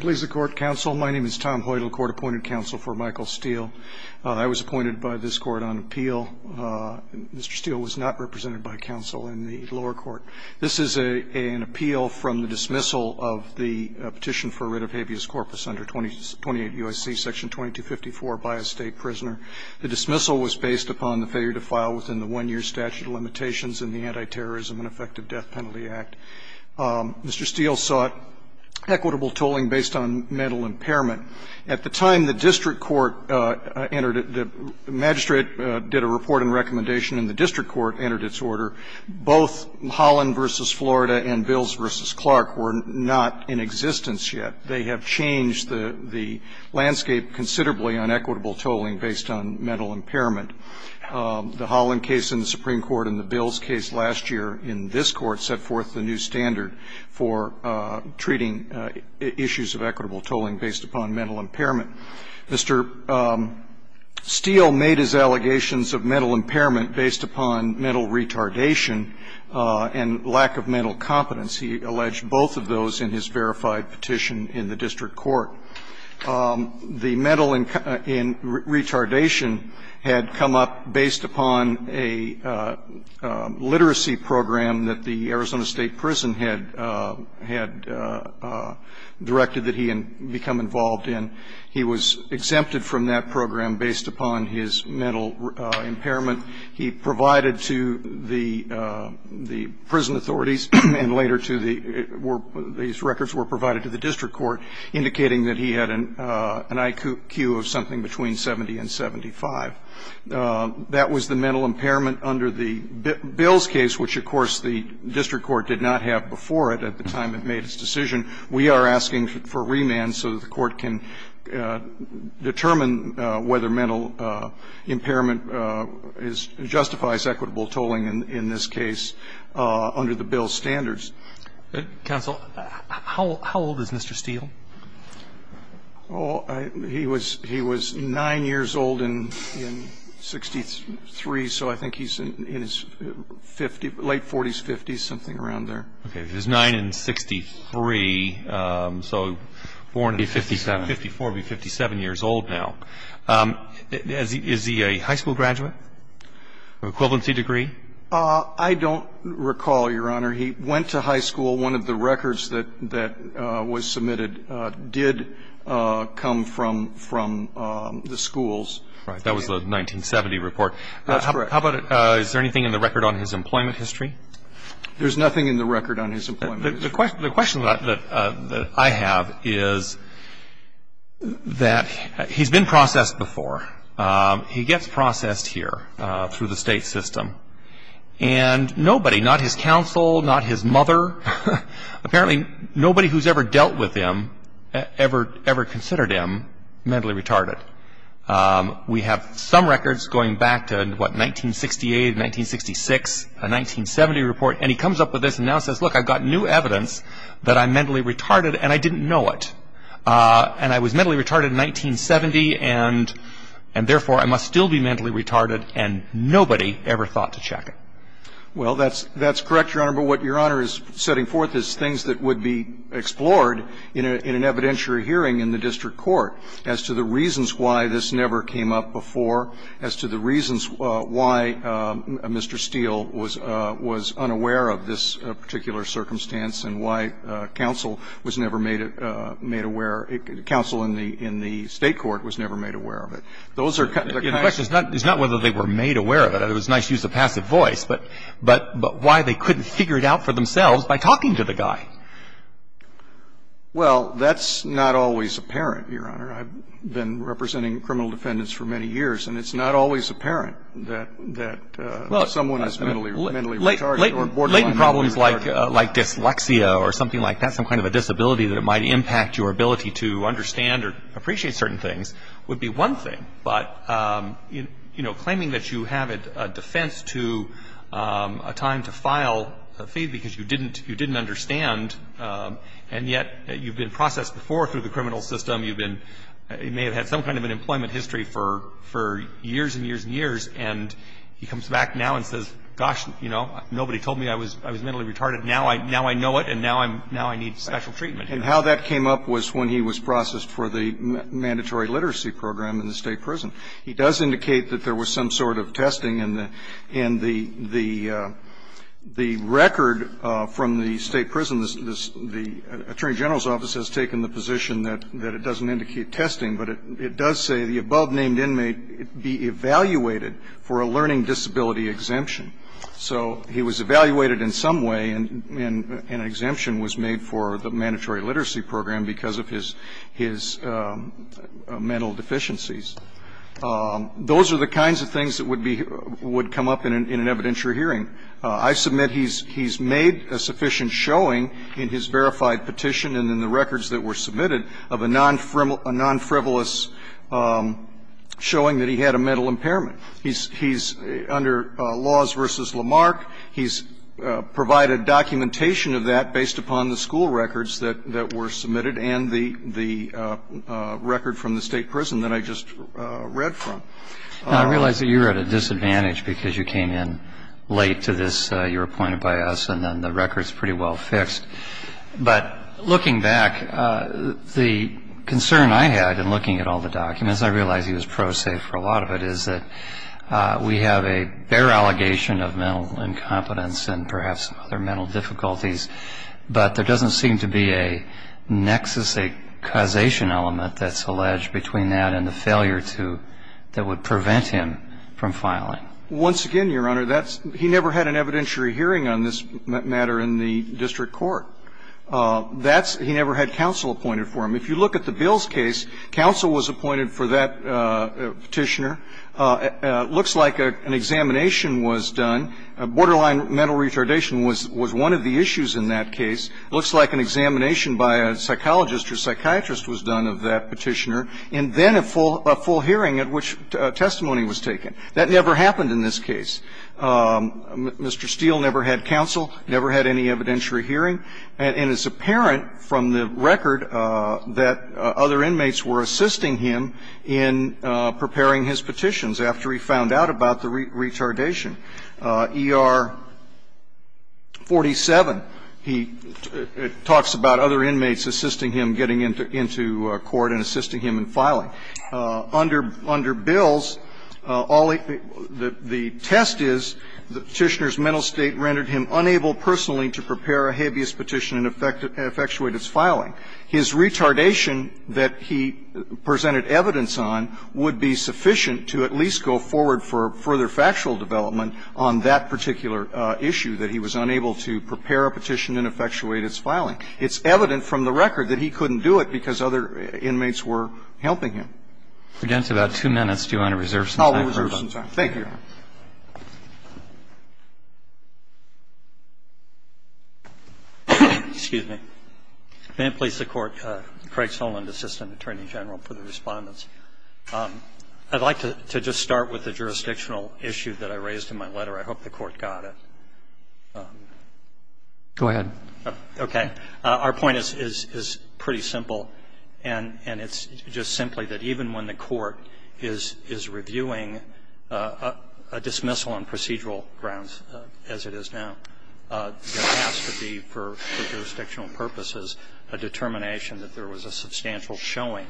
Please the court counsel my name is Tom Hoyt, appointed counsel for Michael Steel. I was appointed by this court on appeal. Mr. Steel was not represented by counsel in the lower court. This is an appeal from the dismissal of the petition for writ of habeas corpus under 28 UIC section 2254 by a state prisoner. The dismissal was based upon the failure to file within the one year statute of limitations in the anti-terrorism and effective death penalty act. Mr. Steel sought a equitable tolling based on mental impairment. At the time the district court entered, the magistrate did a report and recommendation and the district court entered its order, both Holland v. Florida and Bills v. Clark were not in existence yet. They have changed the landscape considerably on equitable tolling based on mental impairment. The Holland case in the Supreme Court and the Bills case last year in this Court set forth the new standard for treating issues of equitable tolling based upon mental impairment. Mr. Steel made his allegations of mental impairment based upon mental retardation and lack of mental competence. He alleged both of those in his verified petition in the district court. The mental retardation had come up based upon a literacy program that the Arizona State Prison had directed that he become involved in. He was exempted from that program based upon his mental impairment. He provided to the prison authorities and later to the – these records were provided to the district court indicating that he had an IQ of something between 70 and 75. That was the mental impairment under the Bills case, which of course the district court did not have before it at the time it made its decision. We are asking for remand so that the court can determine whether mental impairment justifies equitable tolling in this case under the Bills standards. Counsel, how old is Mr. Steel? He was 9 years old in 1963, so I think he's in his late 40s, 50s, something around there. Okay. He was 9 in 63, so born in 54, would be 57 years old now. Is he a high school graduate? Equivalency degree? I don't recall, Your Honor. He went to high school. One of the records that was submitted did come from the schools. Right. That was the 1970 report. That's correct. How about – is there anything in the record on his employment history? There's nothing in the record on his employment history. The question that I have is that he's been processed before. He gets processed here through the state system, and nobody, not his counsel, not his mother, apparently nobody who's ever dealt with him ever considered him mentally retarded. We have some records going back to, what, 1968, 1966, a 1970 report, and he comes up with this and now says, look, I've got new evidence that I'm mentally retarded, and I didn't know it. And I was mentally retarded in 1970, and therefore I must still be mentally retarded, and nobody ever thought to check it. Well, that's correct, Your Honor, but what Your Honor is setting forth is things that would be The question is why this never came up before as to the reasons why Mr. Steele was unaware of this particular circumstance and why counsel was never made aware – counsel in the State court was never made aware of it. The question is not whether they were made aware of it. It was nice to use a passive voice, but why they couldn't figure it out for themselves by talking to the guy. Well, that's not always apparent, Your Honor. I've been representing criminal defendants for many years, and it's not always apparent that someone is mentally retarded or borderline mentally retarded. Latent problems like dyslexia or something like that, some kind of a disability that might impact your ability to understand or appreciate certain things, would be one thing. But, you know, claiming that you have a defense to a time to file a fee because you didn't understand, and yet you've been processed before through the criminal system. You've been – you may have had some kind of an employment history for years and years and years, and he comes back now and says, gosh, you know, nobody told me I was mentally retarded. Now I know it, and now I need special treatment. And how that came up was when he was processed for the mandatory literacy program in the state prison. He does indicate that there was some sort of testing, and the record from the state prison, the attorney general's office has taken the position that it doesn't indicate testing, but it does say the above-named inmate be evaluated for a learning disability exemption. So he was evaluated in some way, and an exemption was made for the mandatory literacy program because of his mental deficiencies. Those are the kinds of things that would be – would come up in an evidentiary hearing. I submit he's made a sufficient showing in his verified petition and in the records that were submitted of a non-frivolous showing that he had a mental impairment. He's under Laws v. Lamarck. He's provided documentation of that based upon the school records that were submitted and the record from the state prison that I just read. I realize that you're at a disadvantage because you came in late to this. You were appointed by us, and then the record's pretty well fixed. But looking back, the concern I had in looking at all the documents – I realize he was pro-safe for a lot of it – is that we have a bare allegation of mental incompetence and perhaps other mental difficulties, but there doesn't seem to be a nexus, a causation element that's alleged between that and the failure to – that would prevent him from filing. Once again, Your Honor, that's – he never had an evidentiary hearing on this matter in the district court. That's – he never had counsel appointed for him. If you look at the Bills case, counsel was appointed for that petitioner. Looks like an examination was done. Borderline mental retardation was one of the issues in that case. Looks like an examination by a psychologist or psychiatrist was done of that petitioner, and then a full hearing at which testimony was taken. That never happened in this case. Mr. Steele never had counsel, never had any evidentiary hearing, and it's apparent from the record that other inmates were assisting him in preparing his petitions after he found out about the retardation. E.R. 47, he talks about other inmates assisting him getting into court and assisting him in filing. Under – under Bills, all he – the test is the petitioner's mental state rendered him unable personally to prepare a habeas petition and effectuate its filing. His retardation that he presented evidence on would be sufficient to at least go forward for further factual development on that particular issue, that he was unable to prepare a petition and effectuate its filing. It's evident from the record that he couldn't do it because other inmates were helping him. We're down to about two minutes. Do you want to reserve some time for us? I'll reserve some time. Thank you, Your Honor. Excuse me. May it please the Court, Craig Soland, Assistant Attorney General, for the Respondents. I'd like to just start with the jurisdictional issue that I raised in my letter. I hope the Court got it. Go ahead. Okay. Our point is pretty simple, and it's just simply that even when the Court is reviewing a dismissal on procedural grounds, as it is now, there has to be, for jurisdictional purposes, a determination that there was a substantial showing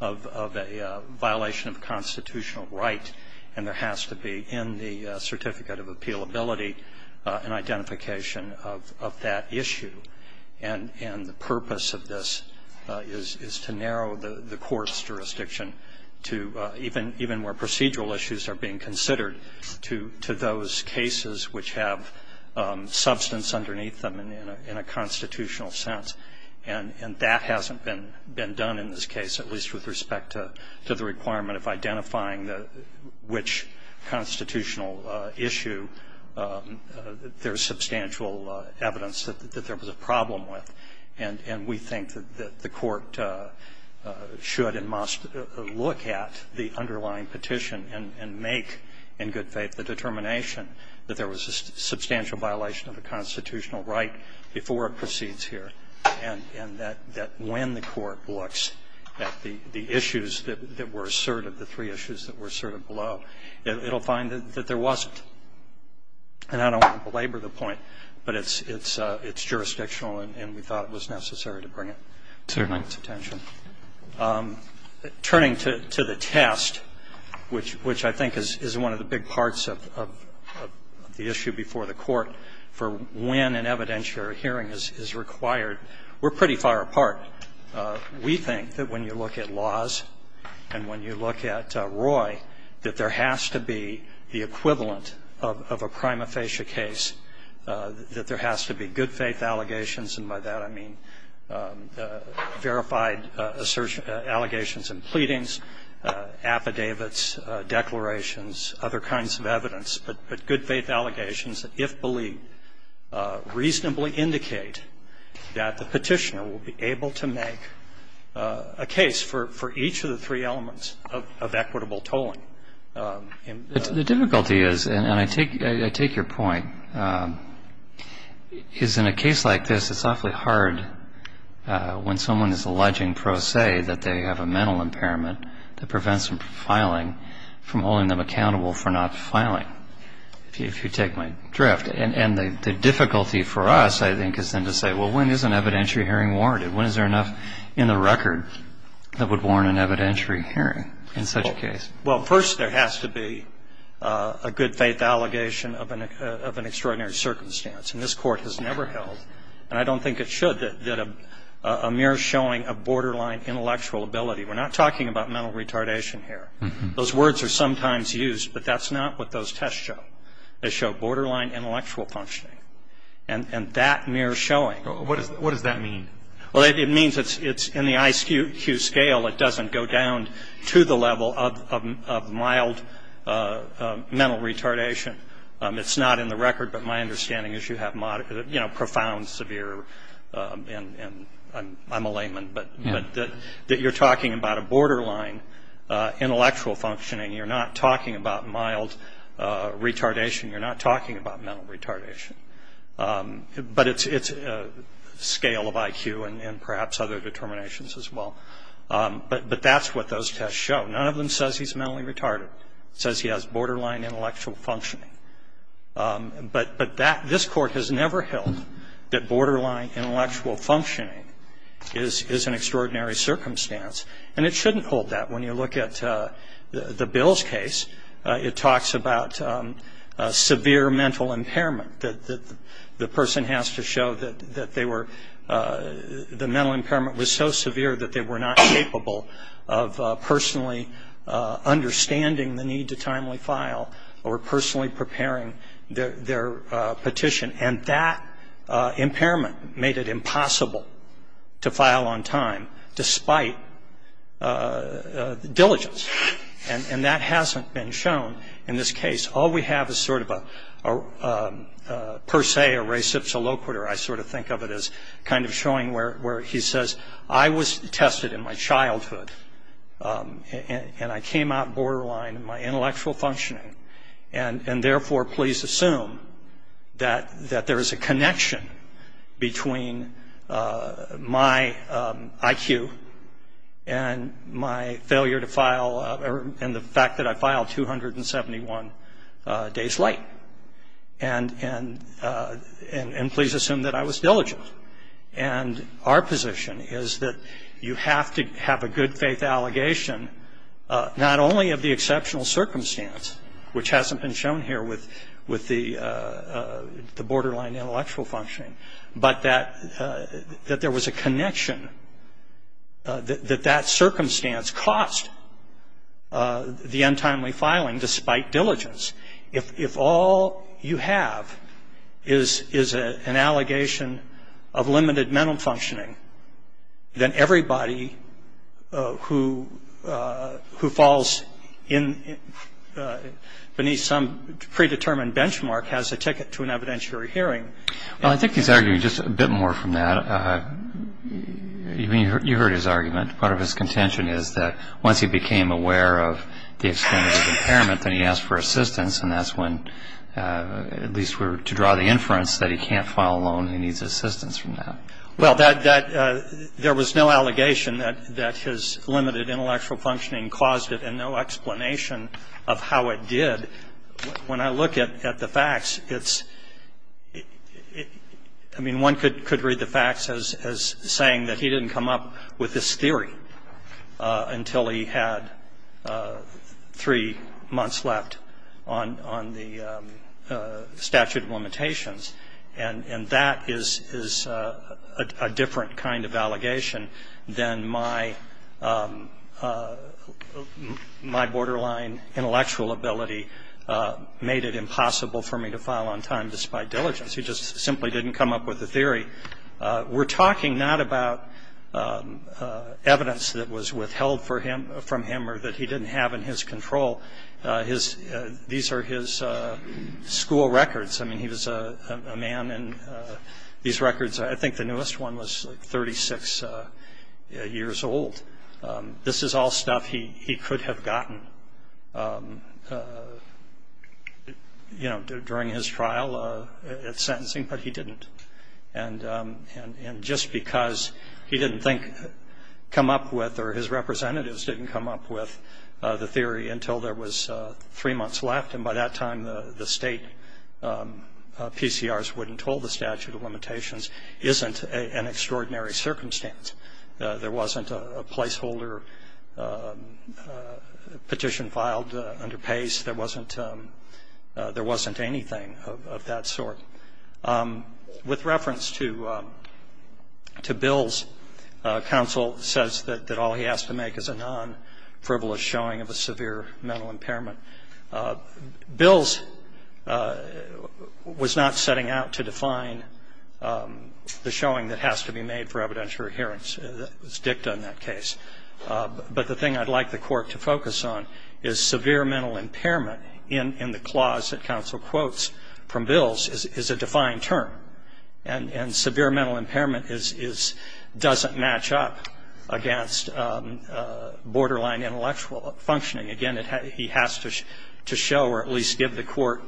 of a violation of constitutional right, and there has to be in the Certificate of Appealability an identification of that issue. And the purpose of this is to narrow the Court's jurisdiction to even where procedural issues are being considered to those cases which have substance underneath them in a constitutional sense. And that hasn't been done in this case, at least with respect to the requirement of identifying which constitutional issue there's substantial evidence that there was a problem with. And we think that the Court should and must look at the underlying petition and make, in good faith, the determination that there was a substantial violation of a constitutional right before it proceeds here, and that when the Court looks at the issues that were asserted, the three issues that were asserted below, it will find that there wasn't. And I don't want to belabor the point, but it's jurisdictional, and we thought it was necessary to bring it to the Court's attention. Turning to the test, which I think is one of the big parts of the issue before the evidence you're hearing is required, we're pretty far apart. We think that when you look at laws and when you look at Roy, that there has to be the equivalent of a prima facie case, that there has to be good faith allegations, and by that I mean verified assertion, allegations and pleadings, affidavits, declarations, other kinds of evidence. But good faith allegations, if believed, reasonably indicate that the petitioner will be able to make a case for each of the three elements of equitable tolling. The difficulty is, and I take your point, is in a case like this, it's awfully hard when someone is alleging pro se that they have a mental impairment that prevents them from filing, from holding them accountable for not filing, if you take my drift. And the difficulty for us, I think, is then to say, well, when is an evidentiary hearing warranted? When is there enough in the record that would warrant an evidentiary hearing in such a case? Well, first there has to be a good faith allegation of an extraordinary circumstance, and this Court has never held, and I don't think it should, that a mere showing of borderline intellectual ability. We're not talking about mental retardation here. Those words are sometimes used, but that's not what those tests show. They show borderline intellectual functioning, and that mere showing. What does that mean? Well, it means it's in the IQ scale. It doesn't go down to the level of mild mental retardation. It's not in the record, but my understanding is you have, you know, profound, severe, and I'm a layman, but that you're talking about a borderline intellectual functioning. You're not talking about mild retardation. You're not talking about mental retardation. But it's a scale of IQ and perhaps other determinations as well. But that's what those tests show. None of them says he's mentally retarded. It says he has borderline intellectual functioning. But this Court has never held that borderline intellectual functioning is an extraordinary circumstance, and it shouldn't hold that. When you look at the Bills case, it talks about severe mental impairment, that the person has to show that the mental impairment was so severe that they were not capable of personally understanding the need to timely file or personally preparing their petition, and that impairment made it impossible to file on time despite diligence. And that hasn't been shown in this case. All we have is sort of a per se, a reciprocal, I sort of think of it as kind of showing where he says, I was tested in my childhood, and I came out borderline in my intellectual functioning, and therefore please assume that there is a connection between my IQ and my failure to file and the fact that I filed 271 days late. And please assume that I was diligent. And our position is that you have to have a good faith allegation not only of the exceptional circumstance, which hasn't been shown here with the borderline intellectual functioning, but that there was a connection that that circumstance cost the untimely filing despite diligence. If all you have is an allegation of limited mental functioning, then everybody who falls beneath some predetermined benchmark has a ticket to an evidentiary hearing. Well, I think he's arguing just a bit more from that. You heard his argument. Part of his contention is that once he became aware of the extent of his impairment, then he asked for assistance, and that's when, at least to draw the inference, that he can't file alone and he needs assistance from that. Well, there was no allegation that his limited intellectual functioning caused it and no explanation of how it did. When I look at the facts, it's, I mean, one could read the facts as saying that he didn't come up with this theory until he had three months left on the statute of limitations. And that is a different kind of allegation than my borderline intellectual ability made it impossible for me to file on time despite diligence. He just simply didn't come up with a theory. We're talking not about evidence that was withheld from him or that he didn't have in his control. These are his school records. I mean, he was a man, and these records, I think the newest one was 36 years old. This is all stuff he could have gotten, you know, during his trial at sentencing, but he didn't. And just because he didn't think, come up with, or his representatives didn't come up with the theory until there was three months left, and by that time the state PCRs wouldn't hold the statute of limitations, isn't an extraordinary circumstance. There wasn't a placeholder petition filed under PACE. There wasn't anything of that sort. With reference to Bill's counsel says that all he has to make is a non-frivolous showing of a severe mental impairment. Bill's was not setting out to define the showing that has to be made for evidentiary hearings. It was dicta in that case. But the thing I'd like the court to focus on is severe mental impairment in the clause that counsel quotes from Bill's is a defined term. And severe mental impairment doesn't match up against borderline intellectual functioning. Again, he has to show or at least give the court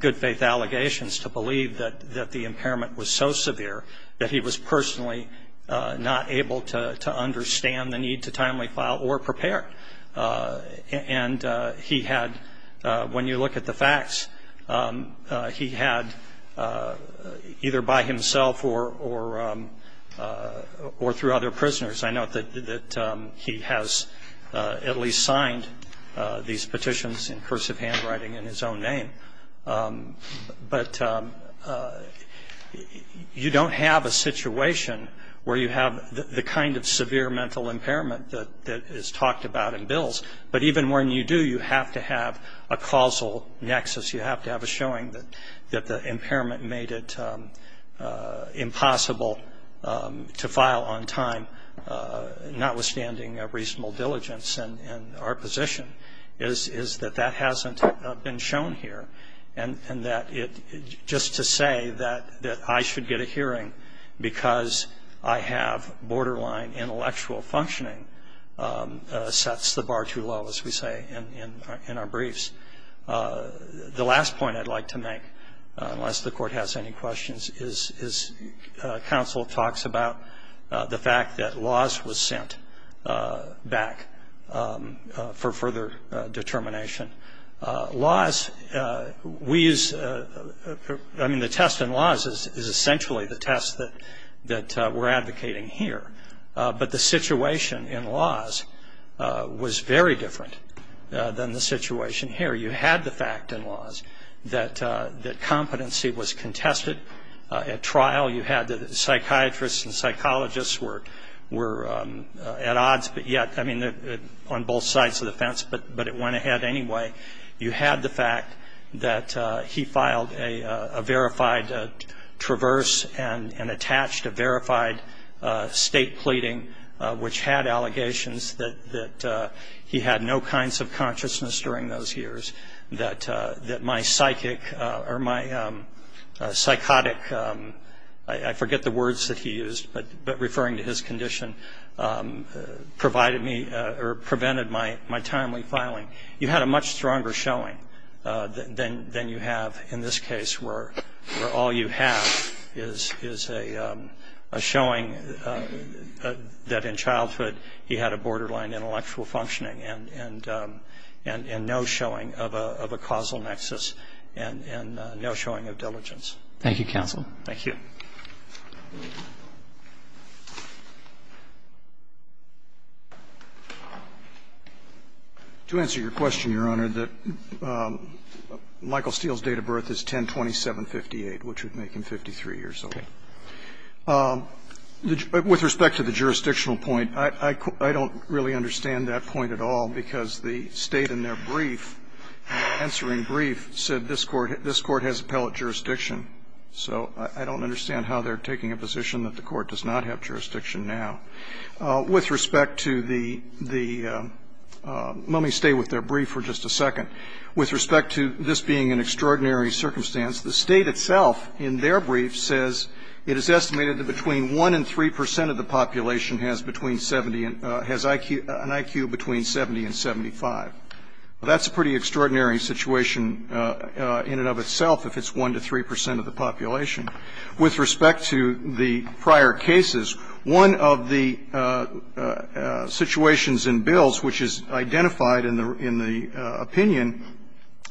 good faith allegations to believe that the impairment was so severe that he was personally not able to understand the need to timely file or prepare. And he had, when you look at the facts, he had either by himself or through other prisoners, I note that he has at least signed these petitions in cursive handwriting in his own name. But you don't have a situation where you have the kind of severe mental impairment that is talked about in Bill's. But even when you do, you have to have a causal nexus. You have to have a showing that the impairment made it impossible to file on time, notwithstanding a reasonable diligence in our position is that that hasn't been shown here. And just to say that I should get a hearing because I have borderline intellectual functioning sets the bar too low, as we say in our briefs. The last point I'd like to make, unless the court has any questions, is counsel talks about the fact that Laws was sent back for further determination. Laws, I mean, the test in Laws is essentially the test that we're advocating here. But the situation in Laws was very different than the situation here. You had the fact in Laws that competency was contested at trial. You had psychiatrists and psychologists were at odds on both sides of the fence, but it went ahead anyway. You had the fact that he filed a verified traverse and attached a verified state pleading, which had allegations that he had no kinds of consciousness during those years, that my psychotic, I forget the words that he used, but referring to his condition, prevented my timely filing. You had a much stronger showing than you have in this case, where all you have is a showing that in childhood he had a borderline intellectual functioning and no showing of a causal nexus and no showing of diligence. Thank you, counsel. Thank you. To answer your question, Your Honor, that Michael Steele's date of birth is 102758, which would make him 53 years old. With respect to the jurisdictional point, I don't really understand that point at all, because the State in their brief, in their answering brief, said this Court has appellate jurisdiction. So I don't understand how they're taking a position that the Court does not have jurisdiction now. With respect to the the let me stay with their brief for just a second. With respect to this being an extraordinary circumstance, the State itself in their brief says it is estimated that between 1 and 3 percent of the population has between 70 and has an IQ between 70 and 75. That's a pretty extraordinary situation in and of itself if it's 1 to 3 percent of the population. With respect to the prior cases, one of the situations in Bills, which is identified in the opinion,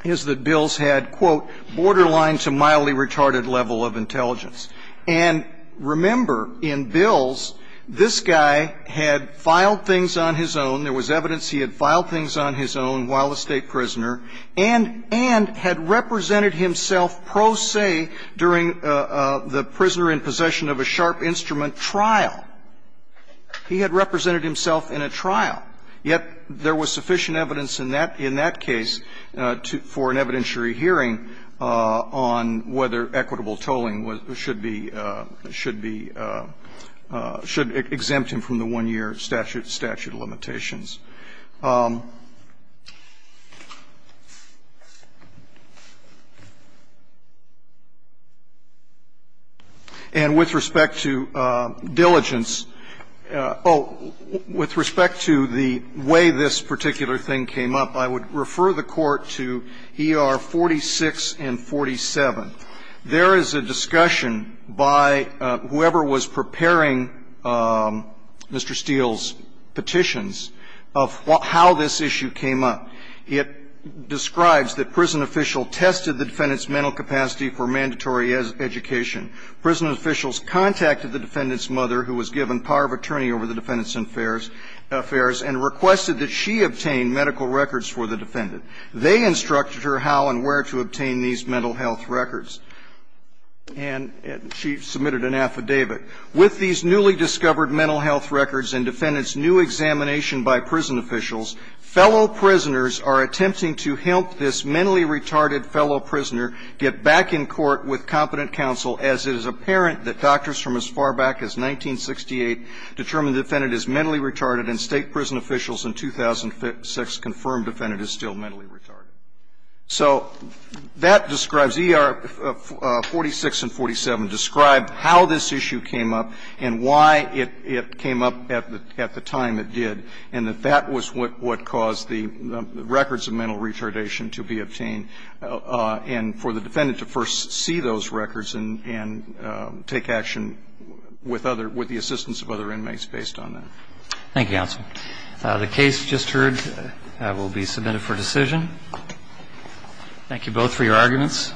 is that Bills had, quote, borderline to mildly retarded level of intelligence. And remember, in Bills, this guy had filed things on his own. There was evidence he had filed things on his own while a State prisoner and had represented himself pro se during the prisoner in possession of a sharp instrument trial. He had represented himself in a trial. Yet there was sufficient evidence in that case for an evidentiary hearing on whether equitable tolling should be, should be, should exempt him from the 1-year statute limitations. And with respect to diligence oh, with respect to the way this particular thing came up, I would refer the Court to E.R. 46 and 47. There is a discussion by whoever was preparing Mr. Steele's petition, and I think they were discussing the limitations of how this issue came up. It describes that prison official tested the defendant's mental capacity for mandatory education. Prison officials contacted the defendant's mother who was given power of attorney over the defendant's affairs and requested that she obtain medical records for the defendant. They instructed her how and where to obtain these mental health records, and she submitted an affidavit. With these newly discovered mental health records and defendant's new examination by prison officials, fellow prisoners are attempting to help this mentally retarded fellow prisoner get back in court with competent counsel as it is apparent that doctors from as far back as 1968 determined the defendant is mentally retarded and state prison officials in 2006 confirmed the defendant is still mentally retarded. So that describes ER 46 and 47, describe how this issue came up and why it came up at the time it did, and that that was what caused the records of mental retardation to be obtained, and for the defendant to first see those records and take action with the assistance of other inmates based on that. Thank you, counsel. The case just heard will be submitted for decision. Thank you both for your arguments.